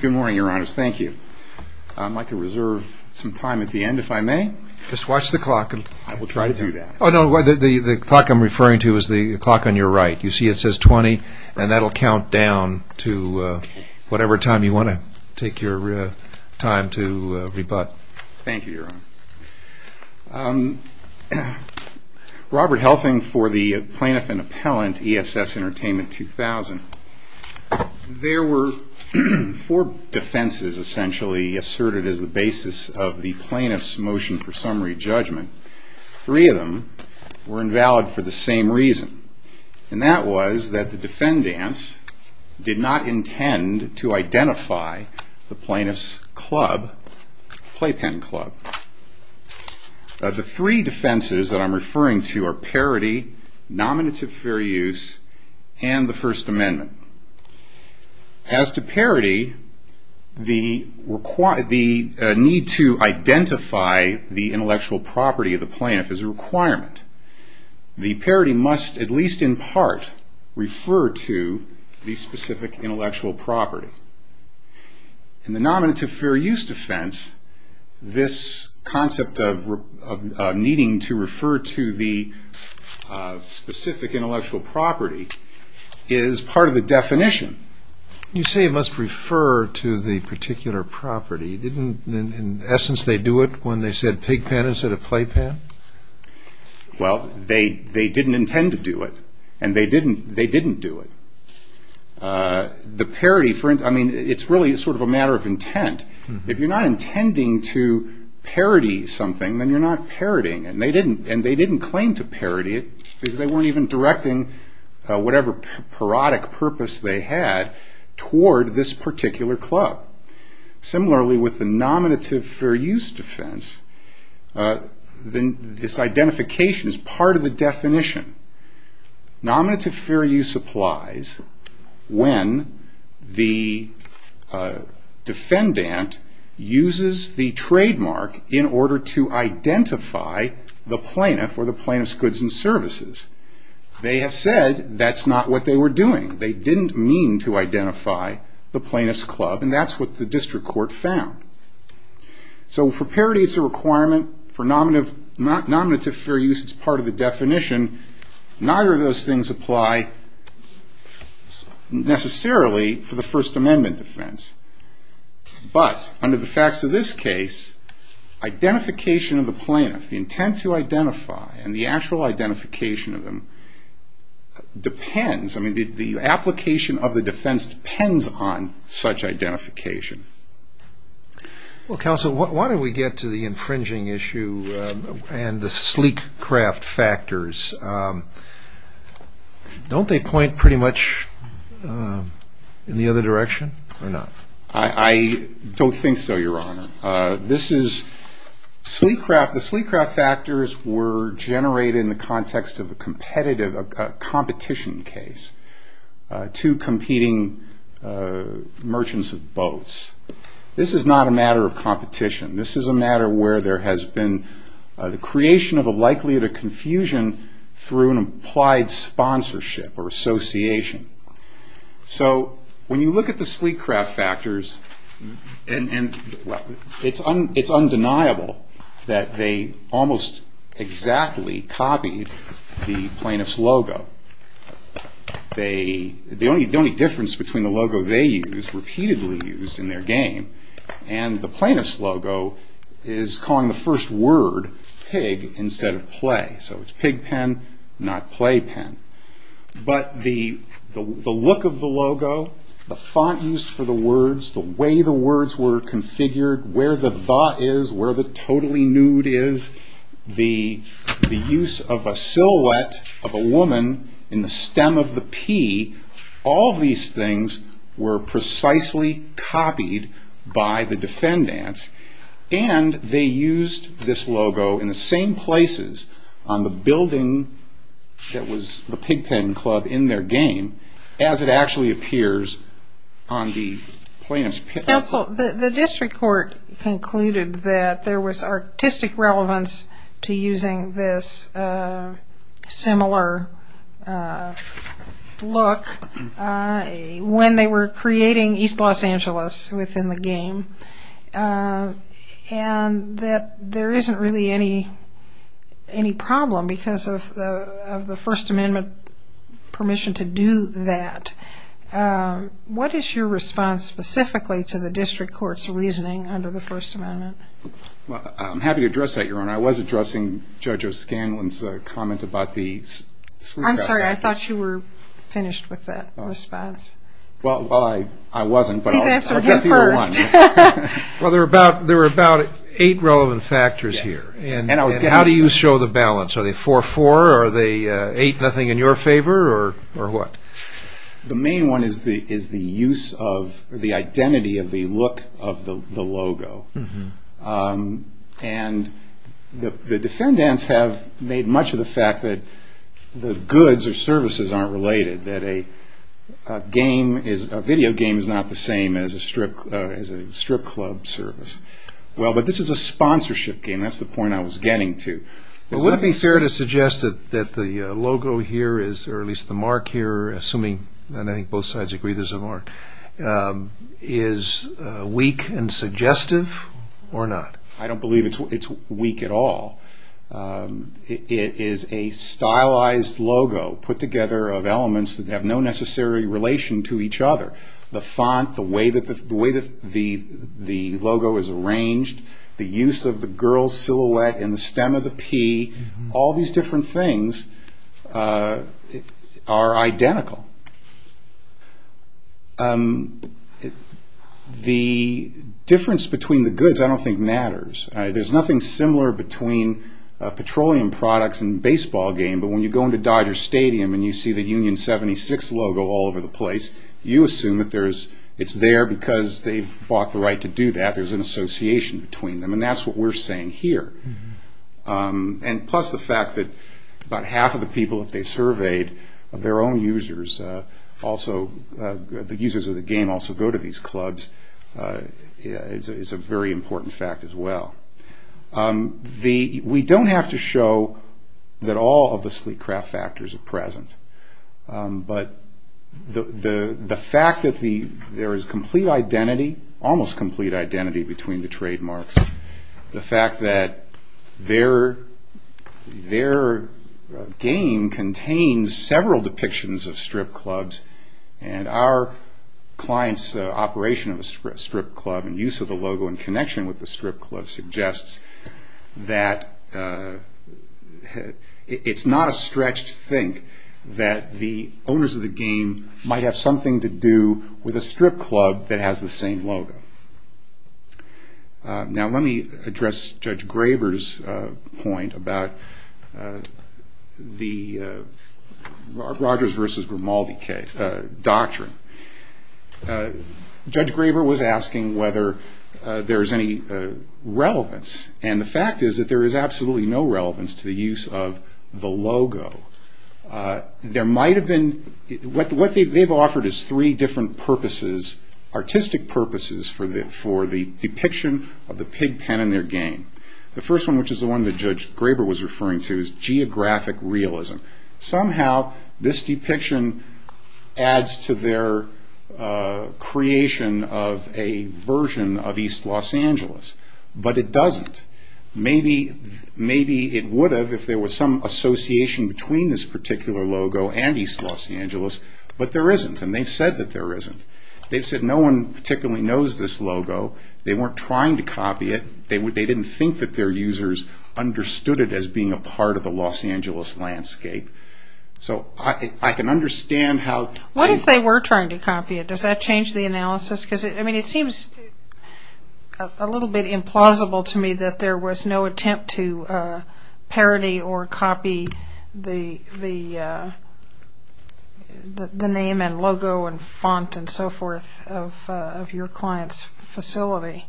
Good morning, Your Honors. Thank you. I'd like to reserve some time at the end if I may. Just watch the clock. I will try to do that. Oh, no, the clock I'm referring to is the clock on your right. You see it says 20, and that will count down to whatever time you want to take your time to rebut. Thank you, Your Honor. Robert Helfing for the Plaintiff and Appellant, E.S.S. Entertainment 2000. There were four defenses essentially asserted as the basis of the plaintiff's motion for did not intend to identify the plaintiff's playpen club. The three defenses that I'm referring to are Parity, Nominative Fair Use, and the First Amendment. As to Parity, the need to identify the intellectual property of the plaintiff is a requirement. The Parity must at least in part refer to the specific intellectual property. In the Nominative Fair Use defense, this concept of needing to refer to the specific intellectual property is part of the definition. You say it must refer to the particular property. Didn't in essence they do it when they said Well, they didn't intend to do it, and they didn't do it. The Parity, I mean, it's really sort of a matter of intent. If you're not intending to Parity something, then you're not Paritying, and they didn't claim to Parity it because they weren't even directing whatever Parodic purpose they had toward this particular club. Similarly, with the Nominative Fair Use defense, this identification is part of the definition. Nominative Fair Use applies when the defendant uses the trademark in order to identify the plaintiff or the plaintiff's goods and services. They have said that's not what they were doing. They didn't mean to identify the plaintiff's club, and that's what the district court found. So for Parity, it's a requirement. For Nominative Fair Use, it's part of the definition. Neither of those things apply necessarily for the First Amendment defense. But under the facts of this case, identification of the plaintiff, the intent to identify and the actual identification of them depends, I mean, the application of the defense depends on such identification. Well, counsel, why don't we get to the infringing issue and the sleek craft factors. Don't they point pretty much in the other direction or not? I don't think so, your honor. This is sleek craft. The sleek craft factors were generated in the context of a competition case, two competing merchants of boats. This is not a matter of competition. This is a matter where there has been the creation of a likelihood of confusion through an applied sponsorship or association. So when you look at the sleek craft factors, it's undeniable that they almost exactly copied the plaintiff's logo. The only difference between the logo they used, repeatedly used in their game, and the plaintiff's logo, is calling the first word pig instead of play. So it's pig pen, not play pen. But the look of the logo, the font used for the words, the way the words were configured, where the the is, where the totally nude is, the use of a silhouette of a woman in the stem of the pea, all these things were precisely copied by the defendants. And they used this logo in the same places on the building that was the pig pen club in their game, as it actually appears on the plaintiff's pig pen club. Counsel, the district court concluded that there was artistic relevance to using this similar look when they were creating East Los Angeles within the game. And that there isn't really any problem because of the First Amendment permission to do that. What is your response specifically to the district court's reasoning under the First Amendment? Well, I'm happy to address that, Your Honor. I was addressing Judge O'Scanlan's comment about the sleek craft factors. I'm sorry, I thought you were finished with that response. Well, I wasn't, but I guess he won. Well, there were about eight relevant factors here. And how do you show the balance? Are they 4-4? Are they eight-nothing in your favor, or what? The main one is the use of the identity of the look of the logo. And the defendants have made much of the fact that the goods or services aren't related, that a video game is not the same as a strip club service. Well, but this is a sponsorship game. That's the point I was getting to. Would it be fair to suggest that the logo here, or at least the mark here, assuming both sides agree there's a mark, is weak and suggestive or not? I don't believe it's weak at all. It is a stylized logo put together of elements that have no necessary relation to each other. The font, the way that the logo is arranged, the use of the girl's silhouette and the stem of the pea, all these different things are identical. The difference between the goods I don't think matters. There's nothing similar between petroleum products and a baseball game, but when you go into Dodger Stadium and you see the Union 76 logo all over the place, you assume that it's there because they've fought the right to do that. There's an association between them, and that's what we're saying here. Plus the fact that about half of the people that they surveyed, their own users, the users of the game also go to these clubs, is a very important fact as well. We don't have to show that all of the sleek craft factors are present, but the fact that there is complete identity, almost complete identity, between the trademarks, the fact that their game contains several depictions of strip clubs and our client's operation of a strip club and use of the logo in connection with the strip club suggests that it's not a stretch to think that the owners of the game might have something to do with a strip club that has the same logo. Now let me address Judge Graber's point about the Rogers versus Grimaldi doctrine. Judge Graber was asking whether there's any relevance, and the fact is that there is absolutely no relevance to the use of the logo. What they've offered is three different purposes, artistic purposes, for the depiction of the pig pen in their game. The first one, which is the one that Judge Graber was referring to, is geographic realism. Somehow this depiction adds to their creation of a version of East Los Angeles, but it doesn't. Maybe it would have if there was some association between this particular logo and East Los Angeles, but there isn't, and they've said that there isn't. They've said no one particularly knows this logo. They weren't trying to copy it. They didn't think that their users understood it as being a part of the Los Angeles landscape. So I can understand how... What if they were trying to copy it? Does that change the analysis? It seems a little bit implausible to me that there was no attempt to parody or copy the name and logo and font and so forth of your client's facility.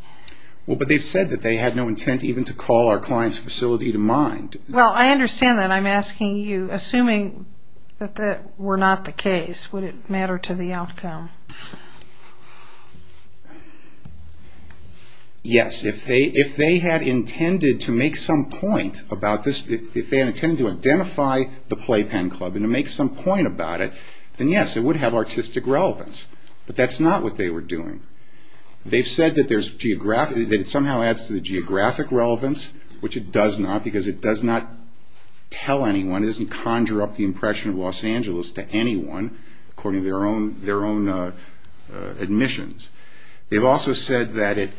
But they've said that they had no intent even to call our client's facility to mind. Well, I understand that. I'm asking you, assuming that that were not the case, would it matter to the outcome? Yes. If they had intended to make some point about this, if they had intended to identify the playpen club and to make some point about it, then yes, it would have artistic relevance. But that's not what they were doing. They've said that it somehow adds to the geographic relevance, which it does not because it does not tell anyone. It doesn't conjure up the impression of Los Angeles to anyone, according to their own admissions. They've also said that it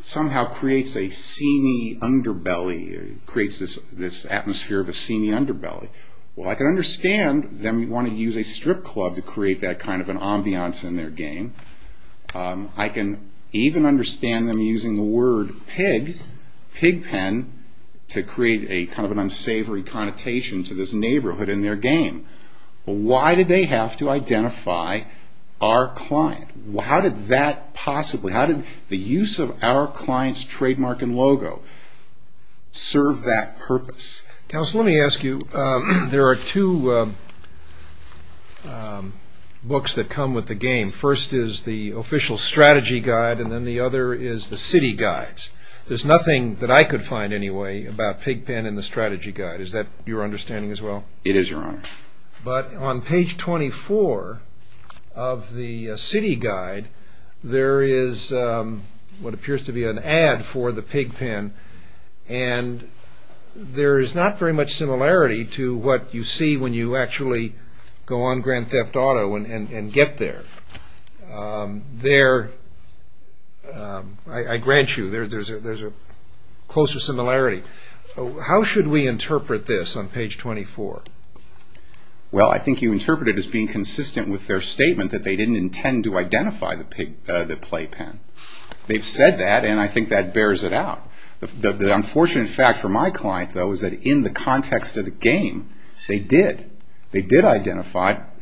somehow creates a sceny underbelly, creates this atmosphere of a sceny underbelly. Well, I can understand them wanting to use a strip club to create that kind of an ambiance in their game. I can even understand them using the word pig, pig pen, to create kind of an unsavory connotation to this neighborhood in their game. Why did they have to identify our client? How did that possibly, how did the use of our client's trademark and logo serve that purpose? Counsel, let me ask you. There are two books that come with the game. First is the official strategy guide, and then the other is the city guides. There's nothing that I could find anyway about pig pen and the strategy guide. Is that your understanding as well? It is, Your Honor. But on page 24 of the city guide, there is what appears to be an ad for the pig pen, and there is not very much similarity to what you see when you actually go on Grand Theft Auto and get there. There, I grant you, there's a closer similarity. How should we interpret this on page 24? Well, I think you interpret it as being consistent with their statement that they didn't intend to identify the play pen. They've said that, and I think that bears it out. The unfortunate fact for my client, though, is that in the context of the game, they did.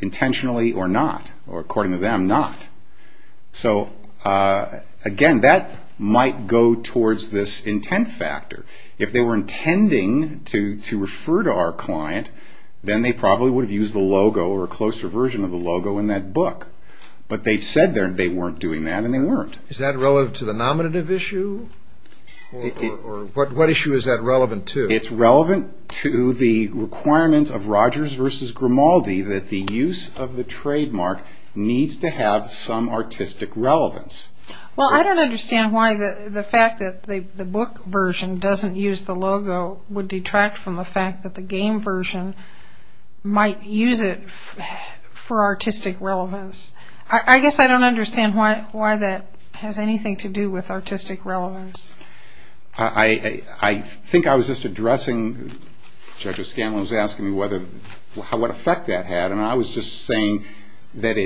intentionally or not, or according to them, not. Again, that might go towards this intent factor. If they were intending to refer to our client, then they probably would have used the logo or a closer version of the logo in that book. But they've said they weren't doing that, and they weren't. Is that relevant to the nominative issue? What issue is that relevant to? It's relevant to the requirement of Rogers v. Grimaldi that the use of the trademark needs to have some artistic relevance. Well, I don't understand why the fact that the book version doesn't use the logo would detract from the fact that the game version might use it for artistic relevance. I guess I don't understand why that has anything to do with artistic relevance. I think I was just addressing... Judge O'Scanlon was asking me what effect that had, and I was just saying that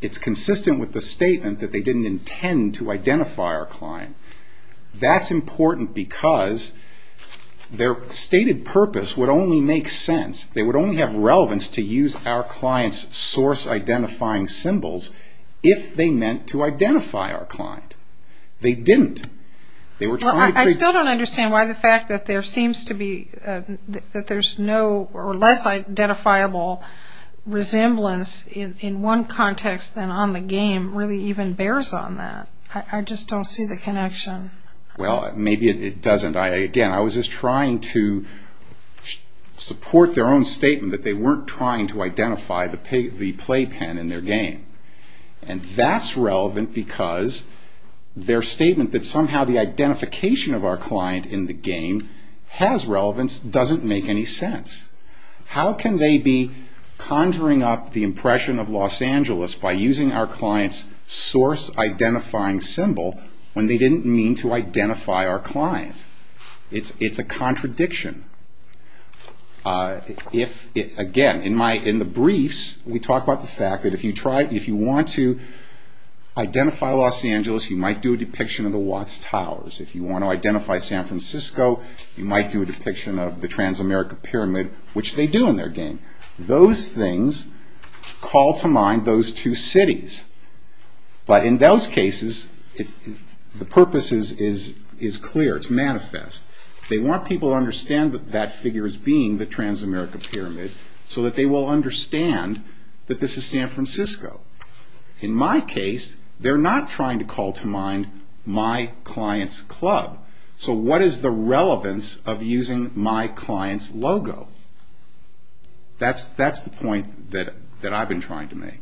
it's consistent with the statement that they didn't intend to identify our client. That's important because their stated purpose would only make sense. They would only have relevance to use our client's source-identifying symbols if they meant to identify our client. They didn't. I still don't understand why the fact that there's no less identifiable resemblance in one context than on the game really even bears on that. I just don't see the connection. Well, maybe it doesn't. Again, I was just trying to support their own statement that they weren't trying to identify the playpen in their game. And that's relevant because their statement that somehow the identification of our client in the game has relevance doesn't make any sense. How can they be conjuring up the impression of Los Angeles by using our client's source-identifying symbol when they didn't mean to identify our client? It's a contradiction. Again, in the briefs, we talk about the fact that if you want to identify Los Angeles, you might do a depiction of the Watts Towers. If you want to identify San Francisco, you might do a depiction of the Transamerica Pyramid, which they do in their game. Those things call to mind those two cities. But in those cases, the purpose is clear, it's manifest. They want people to understand that that figure is being the Transamerica Pyramid so that they will understand that this is San Francisco. In my case, they're not trying to call to mind my client's club. So what is the relevance of using my client's logo? That's the point that I've been trying to make.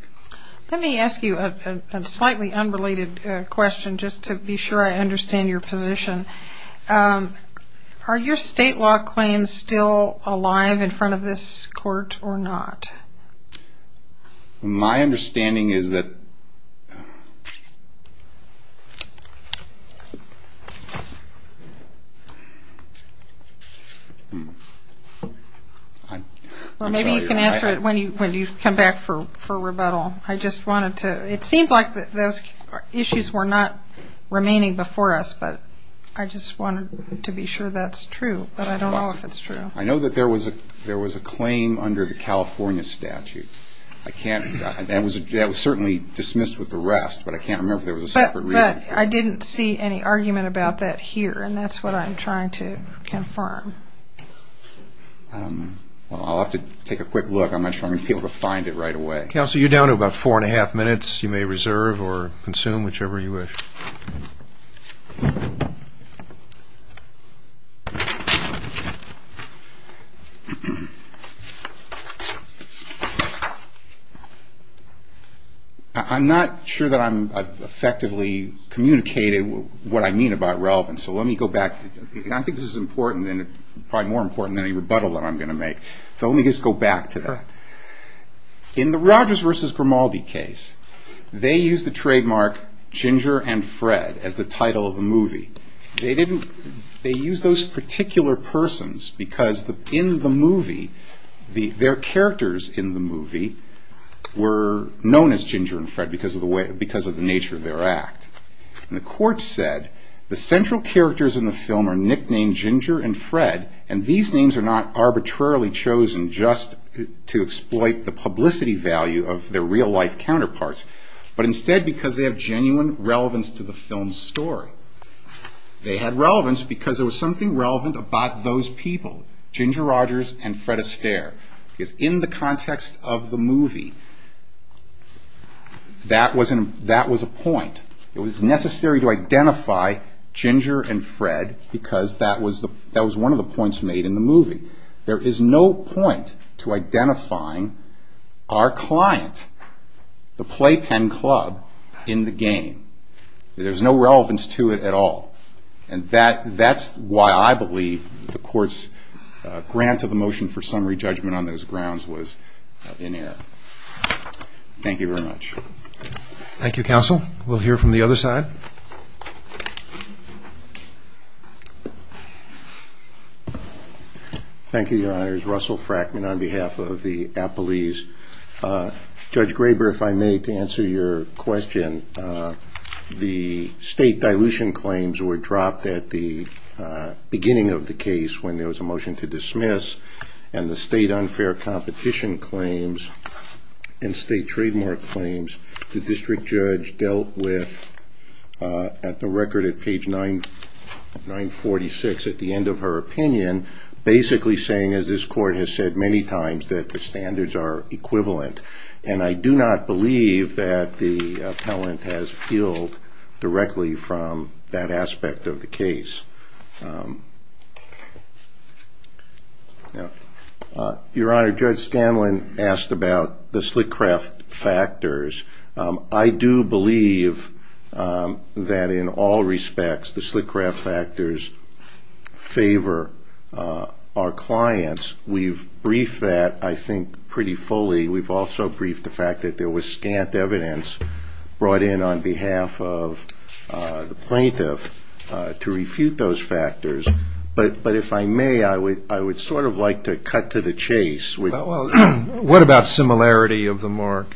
Let me ask you a slightly unrelated question just to be sure I understand your position. Are your state law claims still alive in front of this court or not? My understanding is that... Well, maybe you can answer it when you come back for rebuttal. I just wanted to... It seemed like those issues were not remaining before us, but I just wanted to be sure that's true. But I don't know if it's true. I know that there was a claim under the California statute. That was certainly dismissed with the rest, but I can't remember if there was a separate reason. But I didn't see any argument about that here, and that's what I'm trying to confirm. I'll have to take a quick look. I'm not sure I'm going to be able to find it right away. Counsel, you're down to about four and a half minutes. You may reserve or consume, whichever you wish. I'm not sure that I've effectively communicated what I mean about relevance, so let me go back. I think this is important and probably more important than any rebuttal that I'm going to make. So let me just go back to that. In the Rogers v. Grimaldi case, they used the trademark Ginger and Fred as the title of the movie. They used those particular persons because in the movie, their characters in the movie were known as Ginger and Fred because of the nature of their act. The court said the central characters in the film are nicknamed Ginger and Fred, and these names are not arbitrarily chosen just to exploit the publicity value of their real-life counterparts, but instead because they have genuine relevance to the film's story. They had relevance because there was something relevant about those people, Ginger Rogers and Fred Astaire, because in the context of the movie, that was a point. It was necessary to identify Ginger and Fred because that was one of the points made in the movie. There is no point to identifying our client, the playpen club, in the game. There's no relevance to it at all. And that's why I believe the court's grant of a motion for summary judgment on those grounds was in error. Thank you very much. Thank you, counsel. We'll hear from the other side. Thank you, Your Honors. Russell Frackman on behalf of the appellees. Judge Graber, if I may, to answer your question, the state dilution claims were dropped at the beginning of the case when there was a motion to dismiss, and the state unfair competition claims and state trademark claims the district judge dealt with at the record at page 946 at the end of her opinion basically saying, as this court has said many times, that the standards are equivalent. And I do not believe that the appellant has peeled directly from that aspect of the case. Your Honor, Judge Stanlin asked about the Slickraft factors. I do believe that in all respects the Slickraft factors favor our clients. We've briefed that, I think, pretty fully. We've also briefed the fact that there was scant evidence brought in on behalf of the plaintiff to refute those factors. But if I may, I would sort of like to cut to the chase. What about similarity of the mark?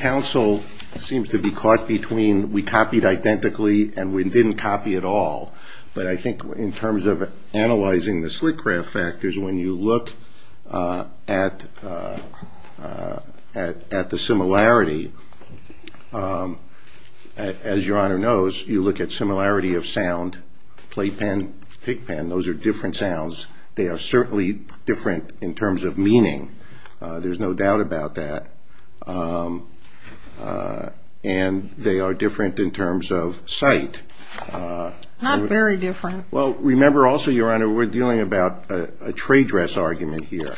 Counsel seems to be caught between we copied identically and we didn't copy at all. But I think in terms of analyzing the Slickraft factors, when you look at the similarity, as Your Honor knows, you look at similarity of sound. Playpen, pickpen, those are different sounds. They are certainly different in terms of meaning. There's no doubt about that. And they are different in terms of sight. Not very different. Well, remember also, Your Honor, we're dealing about a trade dress argument here.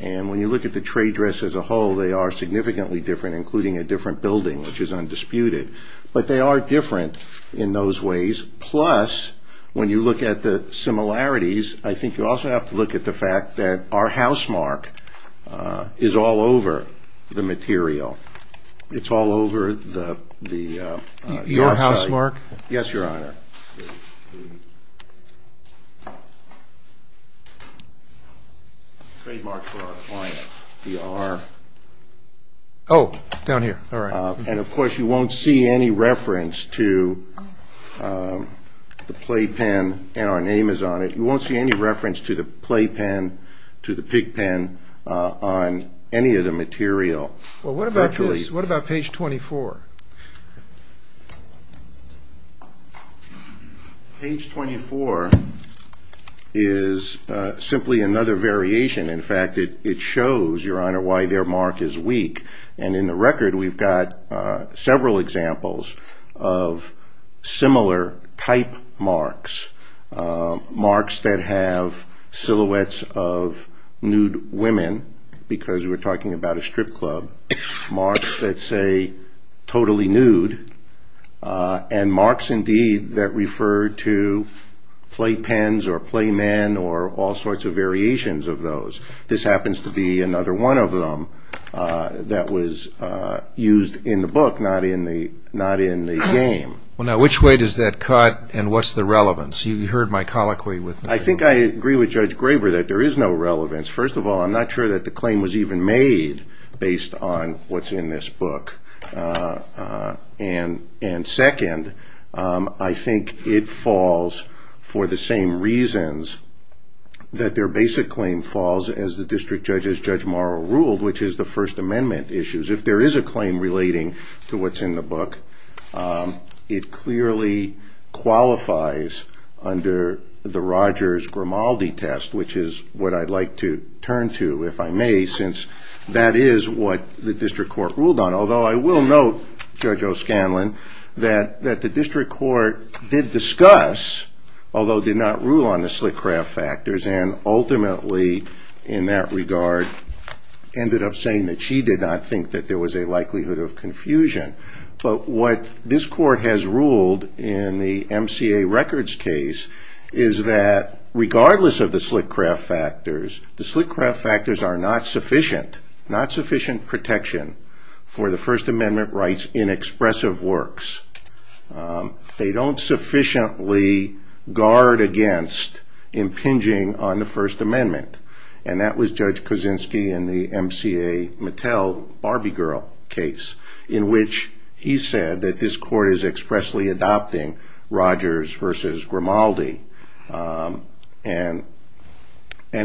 And when you look at the trade dress as a whole, they are significantly different, including a different building, which is undisputed. But they are different in those ways. Plus, when you look at the similarities, I think you also have to look at the fact that our housemark is all over the material. It's all over the... Your housemark? Yes, Your Honor. The trademark for our client. Oh, down here. And of course, you won't see any reference to the playpen, and our name is on it. You won't see any reference to the playpen, to the pickpen on any of the material. Well, what about this? What about page 24? Page 24 is simply another variation. In fact, it shows, Your Honor, why their mark is weak. And in the record, we've got several examples of similar type marks. Marks that have silhouettes of nude women, because we're talking about a strip club. Marks that say, totally nude. And marks, indeed, that refer to playpens or playmen or all sorts of variations of those. This happens to be another one of them that was used in the book, not in the game. Well, now, which way does that cut, and what's the relevance? You heard my colloquy with... I think I agree with Judge Graber that there is no relevance. First of all, I'm not sure that the claim was even made based on what's in this book. And second, I think it falls for the same reasons that their basic claim falls, as the District Judge's Judge Morrow ruled, which is the First Amendment issues. If there is a claim relating to what's in the book, it clearly qualifies under the Rogers-Grimaldi test, which is what I'd like to turn to, if I may, since that is what the District Court ruled on. Although I will note, Judge O'Scanlan, that the District Court did discuss, although did not rule on the slick craft factors, and ultimately, in that regard, ended up saying that she did not think that there was a likelihood of confusion. But what this Court has ruled in the MCA records case is that regardless of the slick craft factors, the slick craft factors are not sufficient protection for the First Amendment rights in expressive works. They don't sufficiently guard against impinging on the First Amendment. And that was Judge Kuczynski in the MCA Mattel Barbie Girl case, in which he said that this Court is expressly adopting Rogers versus Grimaldi. And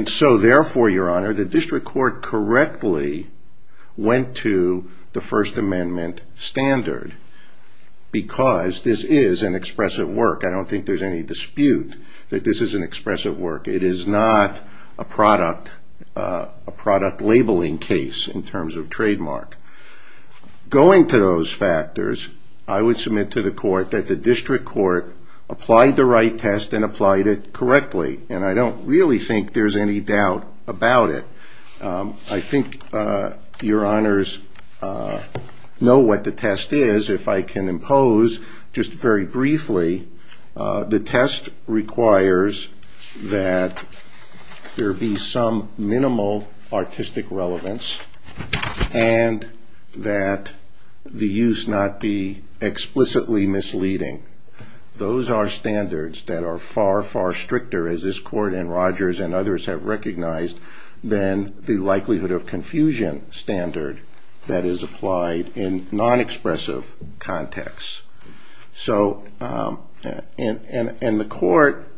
so therefore, Your Honor, the District Court correctly went to the First Amendment standard because this is an expressive work. I don't think there's any dispute that this is an expressive work. It is not a product labeling case in terms of trademark. Going to those factors, I would submit to the Court that the District Court applied the right test and applied it correctly. And I don't really think there's any doubt about it. I think Your Honors know what the test is. If I can impose, just very briefly, the test requires that there be some minimal artistic relevance and that the use not be explicitly misleading. Those are standards that are far, far stricter, as this Court and Rogers and others have recognized, than the likelihood of confusion standard that is applied in non-expressive contexts. And the Court,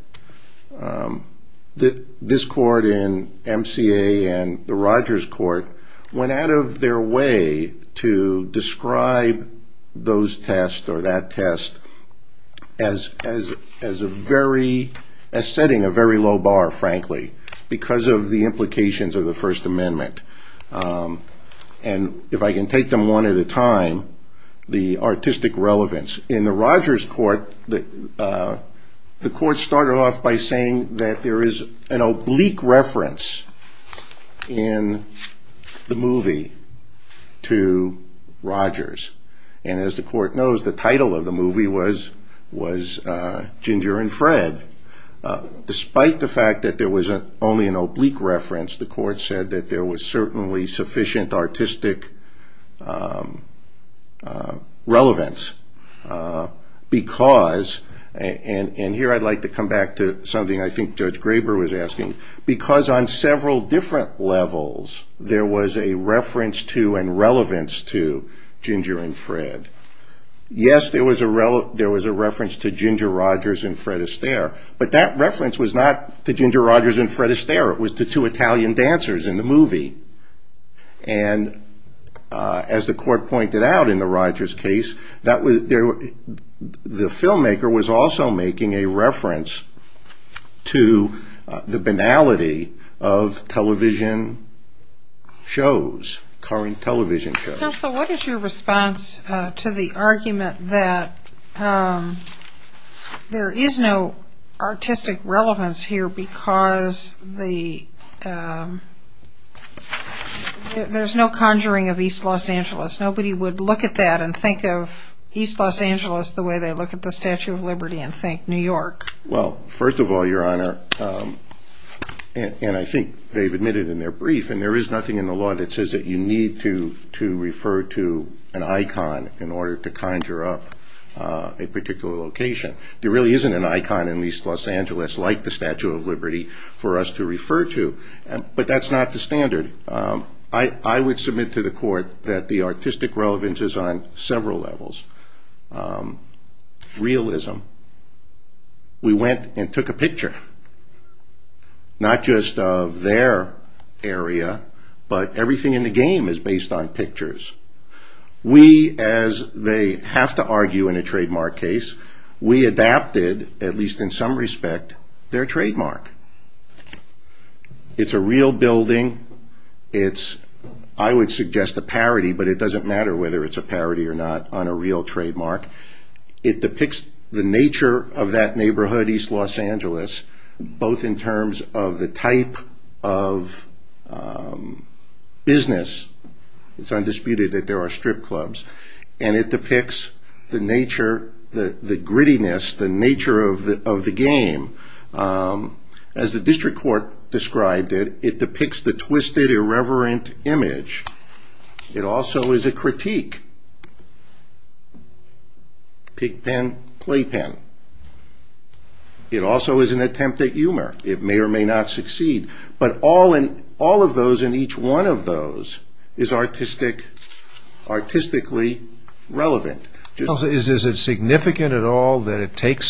this Court in MCA and the Rogers Court, went out of their way to describe those tests or that test as setting a very low bar, frankly, because of the implications of the First Amendment. And if I can take them one at a time, the artistic relevance. In the Rogers Court, the Court started off by saying that there is an oblique reference in the movie to Rogers. And as the Court knows, the title of the movie was Ginger and Fred. Despite the fact that there was only an oblique reference, the Court said that there was certainly sufficient artistic relevance. Because, and here I'd like to come back to something I think Judge Graber was asking, because on several different levels, there was a reference to and relevance to Ginger and Fred. Yes, there was a reference to Ginger Rogers and Fred Astaire, but that reference was not to Ginger Rogers and Fred Astaire, it was to two Italian dancers in the movie. And as the Court pointed out in the Rogers case, the filmmaker was also making a reference to the banality of television shows, current television shows. Counsel, what is your response to the argument that there is no artistic relevance here because there's no conjuring of East Los Angeles? Nobody would look at that and think of East Los Angeles the way they look at the Statue of Liberty and think New York. Well, first of all, Your Honor, and I think they've admitted in their brief, and there is nothing in the law that says that you need to refer to an icon in order to conjure up a particular location. There really isn't an icon in East Los Angeles, like the Statue of Liberty, for us to refer to. But that's not the standard. I would submit to the Court that the artistic relevance is on several levels. Realism. We went and took a picture, not just of their area, but everything in the game is based on pictures. We, as they have to argue in a trademark case, we adapted, at least in some respect, their trademark. It's a real building. It's, I would suggest, a parody, but it doesn't matter whether it's a parody or not on a real trademark. It depicts the nature of that neighborhood, East Los Angeles, both in terms of the type of business. It's undisputed that there are strip clubs. It depicts the nature, the grittiness, the nature of the game. As the District Court described it, it depicts the twisted, irreverent image. It also is a critique. Pigpen, playpen. It also is an attempt at humor. It may or may not succeed. But all of those and each one of those is artistically relevant. Is it significant at all that it takes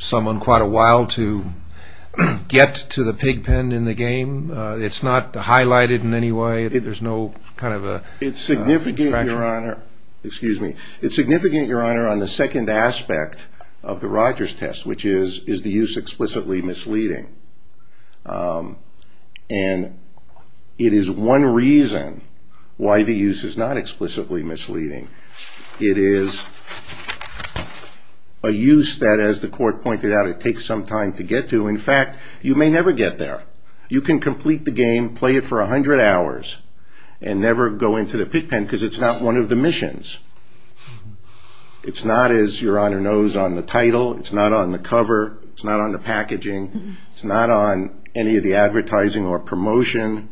someone quite a while to get to the pigpen in the game? It's not highlighted in any way. There's no kind of a contraction. It's significant, Your Honor, on the second aspect of the Rogers test, which is, is the use explicitly misleading? And it is one reason why the use is not explicitly misleading. It is a use that, as the Court pointed out, it takes some time to get to. In fact, you may never get there. You can complete the game, play it for 100 hours, and never go into the pigpen because it's not one of the missions. It's not, as Your Honor knows on the title, it's not on the cover, it's not on the packaging, it's not on any of the advertising or promotion.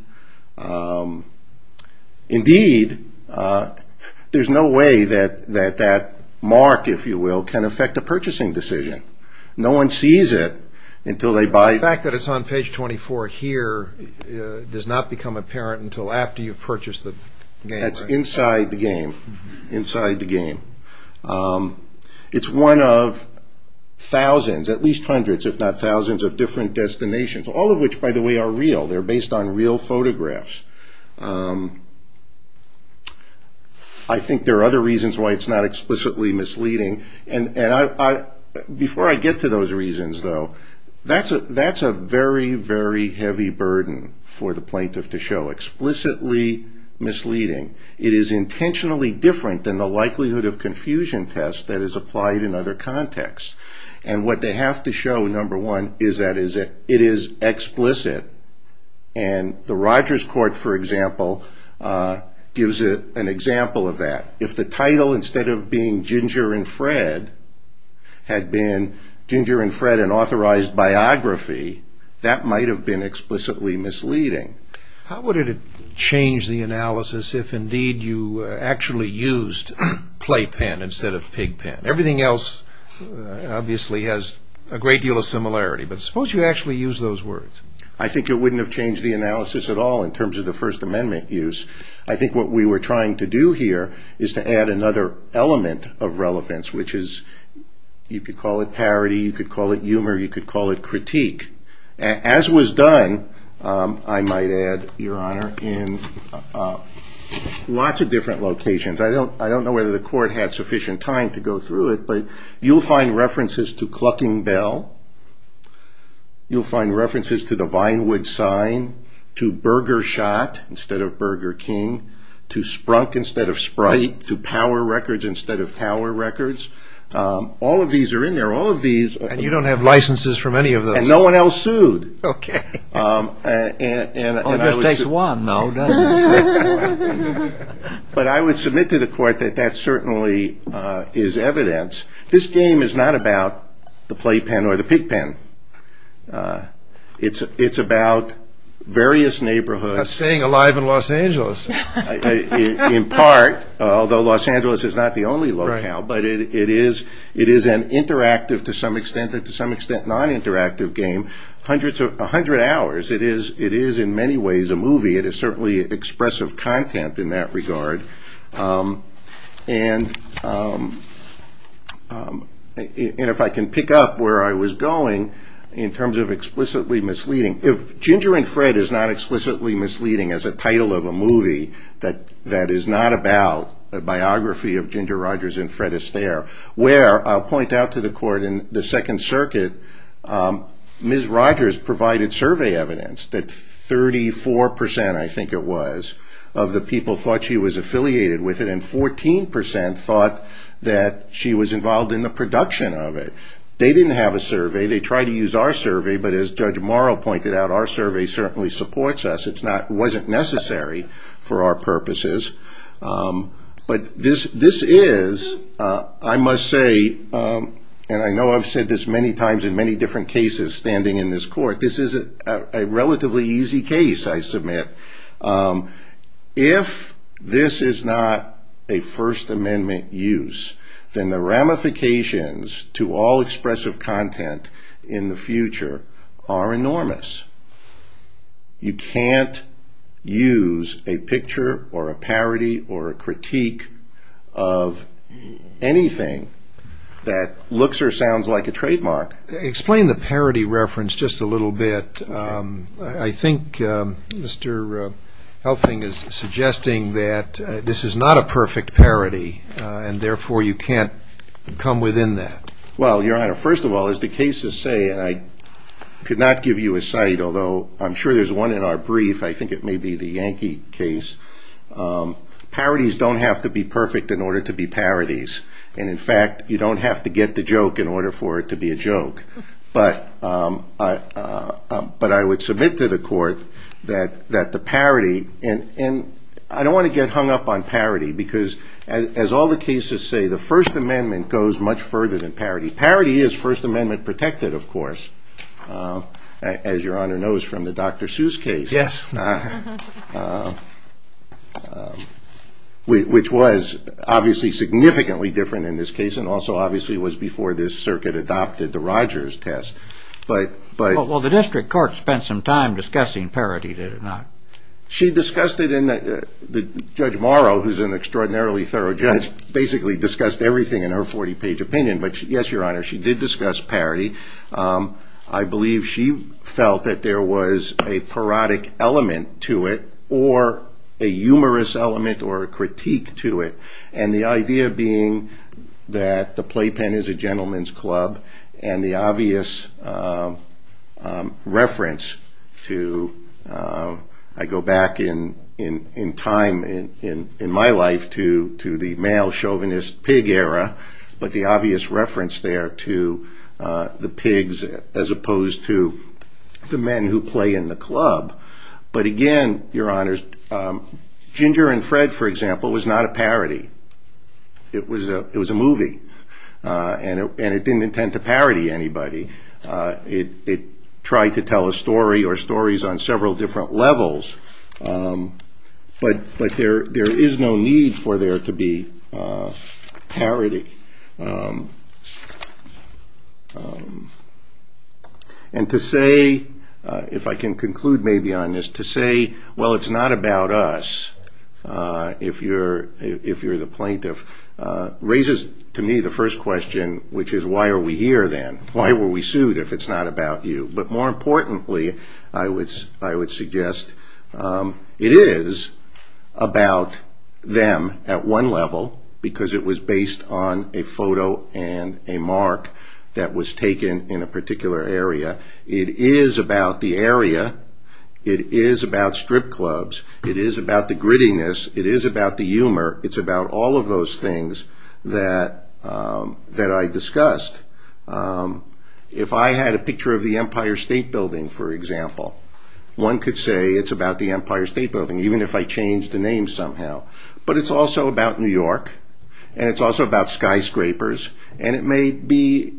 Indeed, there's no way that that mark, if you will, can affect a purchasing decision. No one sees it until they buy it. The fact that it's on page 24 here does not become apparent until after you've purchased the game, right? That's inside the game, inside the game. It's one of thousands, at least hundreds if not thousands, of different destinations, all of which, by the way, are real. They're based on real photographs. I think there are other reasons why it's not explicitly misleading. And before I get to those reasons, though, that's a very, very heavy burden for the plaintiff to show. Explicitly misleading. It is intentionally different than the likelihood of confusion test that is applied in other contexts. And what they have to show, number one, is that it is explicit. And the Rogers Court, for example, gives an example of that. If the title, instead of being Ginger and Fred, had been Ginger and Fred, an authorized biography, that might have been explicitly misleading. How would it have changed the analysis if, indeed, you actually used playpen instead of pigpen? Everything else, obviously, has a great deal of similarity. But suppose you actually used those words. I think it wouldn't have changed the analysis at all in terms of the First Amendment use. I think what we were trying to do here is to add another element of relevance, which is, you could call it parody, you could call it humor, you could call it critique. As was done, I might add, Your Honor, in lots of different locations. I don't know whether the court had sufficient time to go through it, but you'll find references to Clucking Bell. You'll find references to the Vinewood sign, to Burger Shot instead of Burger King, to Sprunk instead of Sprite, to Power Records instead of Tower Records. All of these are in there. And you don't have licenses for any of those? And no one else sued. Okay. Well, it just takes one, though, doesn't it? But I would submit to the court that that certainly is evidence. This game is not about the playpen or the pigpen. It's about various neighborhoods. About staying alive in Los Angeles. In part, although Los Angeles is not the only locale, but it is an interactive to some extent, and to some extent non-interactive game. A hundred hours. It is in many ways a movie. It is certainly expressive content in that regard. And if I can pick up where I was going in terms of explicitly misleading. If Ginger and Fred is not explicitly misleading as a title of a movie that is not about a biography of Ginger Rogers and Fred Astaire, where I'll point out to the court in the Second Circuit, Ms. Rogers provided survey evidence that 34%, I think it was, of the people thought she was affiliated with it and 14% thought that she was involved in the production of it. They didn't have a survey. They tried to use our survey, but as Judge Morrow pointed out, our survey certainly supports us. It wasn't necessary for our purposes. But this is, I must say, and I know I've said this many times in many different cases standing in this court, this is a relatively easy case, I submit. If this is not a First Amendment use, then the ramifications to all expressive content in the future are enormous. You can't use a picture or a parody or a critique of anything that looks or sounds like a trademark. Explain the parody reference just a little bit. I think Mr. Helfing is suggesting that this is not a perfect parody and therefore you can't come within that. Well, Your Honor, first of all, as the cases say, and I could not give you a site, although I'm sure there's one in our brief, I think it may be the Yankee case, parodies don't have to be perfect in order to be parodies. In fact, you don't have to get the joke in order for it to be a joke. But I would submit to the court that the parody, and I don't want to get hung up on parody because as all the cases say, the First Amendment goes much further than parody. Parody is First Amendment protected, of course, as Your Honor knows from the Dr. Seuss case, which was obviously significantly different in this case and also obviously was before this circuit adopted the Rogers test. Well, the district court spent some time discussing parody, did it not? She discussed it. Judge Morrow, who's an extraordinarily thorough judge, basically discussed everything in her 40-page opinion. But yes, Your Honor, she did discuss parody. I believe she felt that there was a parodic element to it or a humorous element or a critique to it, and the idea being that the playpen is a gentleman's club and the obvious reference to, I go back in time in my life to the male chauvinist pig era, but the obvious reference there to the pigs as opposed to the men who play in the club. But again, Your Honors, Ginger and Fred, for example, was not a parody. It was a movie, and it didn't intend to parody anybody. It tried to tell a story or stories on several different levels, but there is no need for there to be parody. And to say, if I can conclude maybe on this, to say, well, it's not about us if you're the plaintiff, raises to me the first question, which is why are we here then? Why were we sued if it's not about you? But more importantly, I would suggest it is about them at one level because it was based on a photo and a mark that was taken in a particular area. It is about the area. It is about strip clubs. It is about the grittiness. It is about the humor. It's about all of those things that I discussed. If I had a picture of the Empire State Building, for example, one could say it's about the Empire State Building, even if I change the name somehow. But it's also about New York, and it's also about skyscrapers, and it may be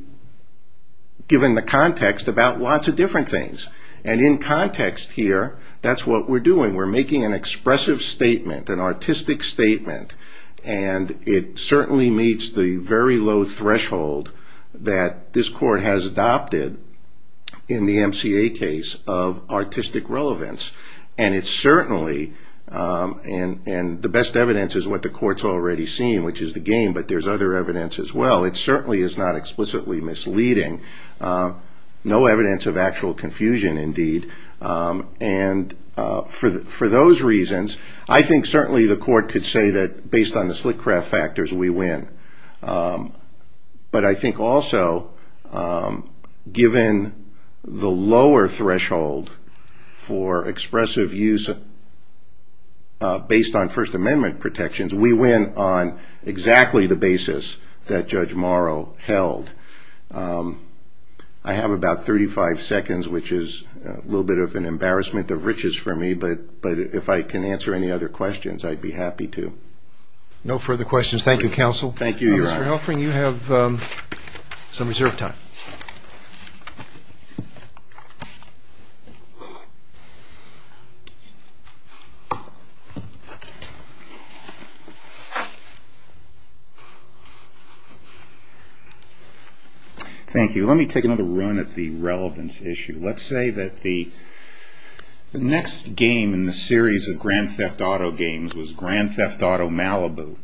given the context about lots of different things. And in context here, that's what we're doing. We're making an expressive statement, an artistic statement, and it certainly meets the very low threshold that this court has adopted in the MCA case of artistic relevance. And it certainly, and the best evidence is what the court's already seen, which is the game, but there's other evidence as well. It certainly is not explicitly misleading. No evidence of actual confusion indeed. And for those reasons, I think certainly the court could say that based on the Slitcraft factors, we win. But I think also given the lower threshold for expressive use based on First Amendment protections, we win on exactly the basis that Judge Morrow held. I have about 35 seconds, which is a little bit of an embarrassment of riches for me, but if I can answer any other questions, I'd be happy to. No further questions. Thank you, Counsel. Thank you, Your Honor. Mr. Helfring, you have some reserved time. Thank you. Let me take another run at the relevance issue. Let's say that the next game in the series of Grand Theft Auto games was Grand Theft Auto Malibu,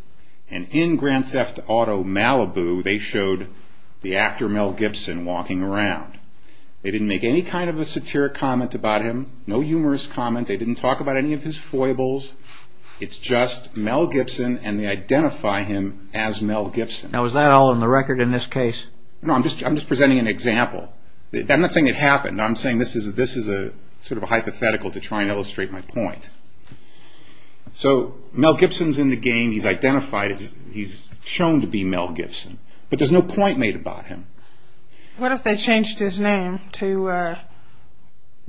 and in Grand Theft Auto Malibu, they showed the actor Mel Gibson walking around. They didn't make any kind of a satiric comment about him, no humorous comment. They didn't talk about any of his foibles. It's just Mel Gibson, and they identify him as Mel Gibson. Now, is that all on the record in this case? No, I'm just presenting an example. I'm not saying it happened. I'm saying this is sort of a hypothetical to try and illustrate my point. So Mel Gibson's in the game. He's identified. He's shown to be Mel Gibson, but there's no point made about him. What if they changed his name to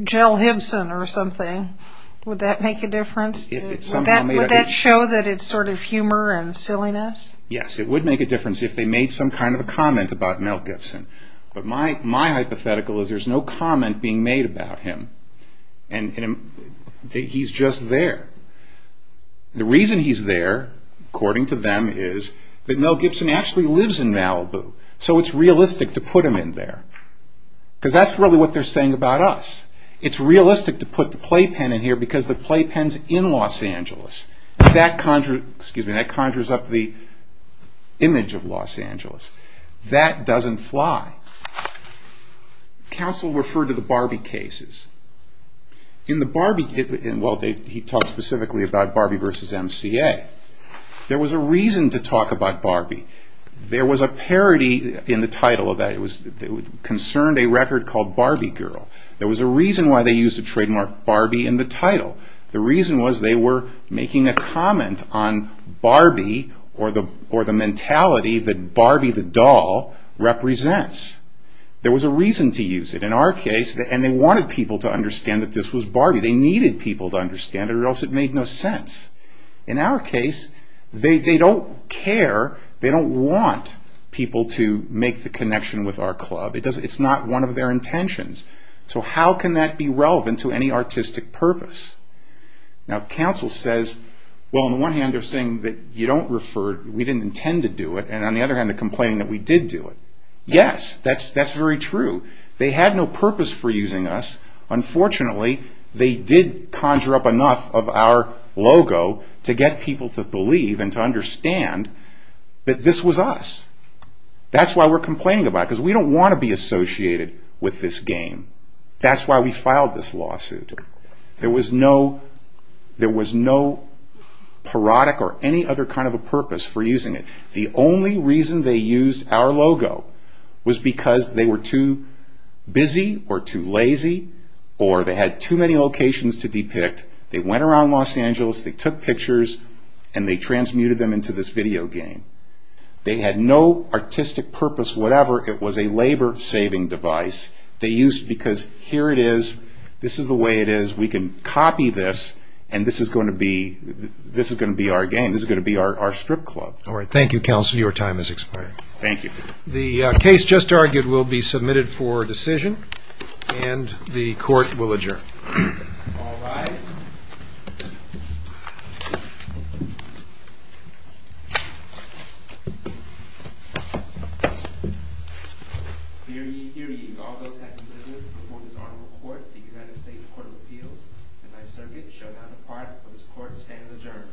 Jell Hibson or something? Would that make a difference? Would that show that it's sort of humor and silliness? Yes, it would make a difference if they made some kind of a comment about Mel Gibson. But my hypothetical is there's no comment being made about him, and he's just there. The reason he's there, according to them, is that Mel Gibson actually lives in Malibu, so it's realistic to put him in there because that's really what they're saying about us. It's realistic to put the playpen in here because the playpen's in Los Angeles. That conjures up the image of Los Angeles. That doesn't fly. Counsel referred to the Barbie cases. He talked specifically about Barbie v. MCA. There was a reason to talk about Barbie. There was a parody in the title that concerned a record called Barbie Girl. There was a reason why they used the trademark Barbie in the title. The reason was they were making a comment on Barbie or the mentality that Barbie the doll represents. There was a reason to use it in our case, and they wanted people to understand that this was Barbie. They needed people to understand it or else it made no sense. In our case, they don't care. They don't want people to make the connection with our club. It's not one of their intentions. How can that be relevant to any artistic purpose? Counsel says, on the one hand, they're saying that we didn't intend to do it, and on the other hand, they're complaining that we did do it. Yes, that's very true. They had no purpose for using us. Unfortunately, they did conjure up enough of our logo to get people to believe and to understand that this was us. That's why we're complaining about it That's why we filed this lawsuit. There was no parodic or any other kind of a purpose for using it. The only reason they used our logo was because they were too busy or too lazy or they had too many locations to depict. They went around Los Angeles, they took pictures, and they transmuted them into this video game. They had no artistic purpose whatever. It was a labor-saving device. They used it because here it is. This is the way it is. We can copy this, and this is going to be our game. This is going to be our strip club. Thank you, Counsel. Your time has expired. Thank you. The case just argued will be submitted for decision, and the Court will adjourn. All rise. Hear ye, hear ye, all those having business before this honorable Court, the United States Court of Appeals, and by the Circuit, show now the part on which the Court stands adjourned. Good.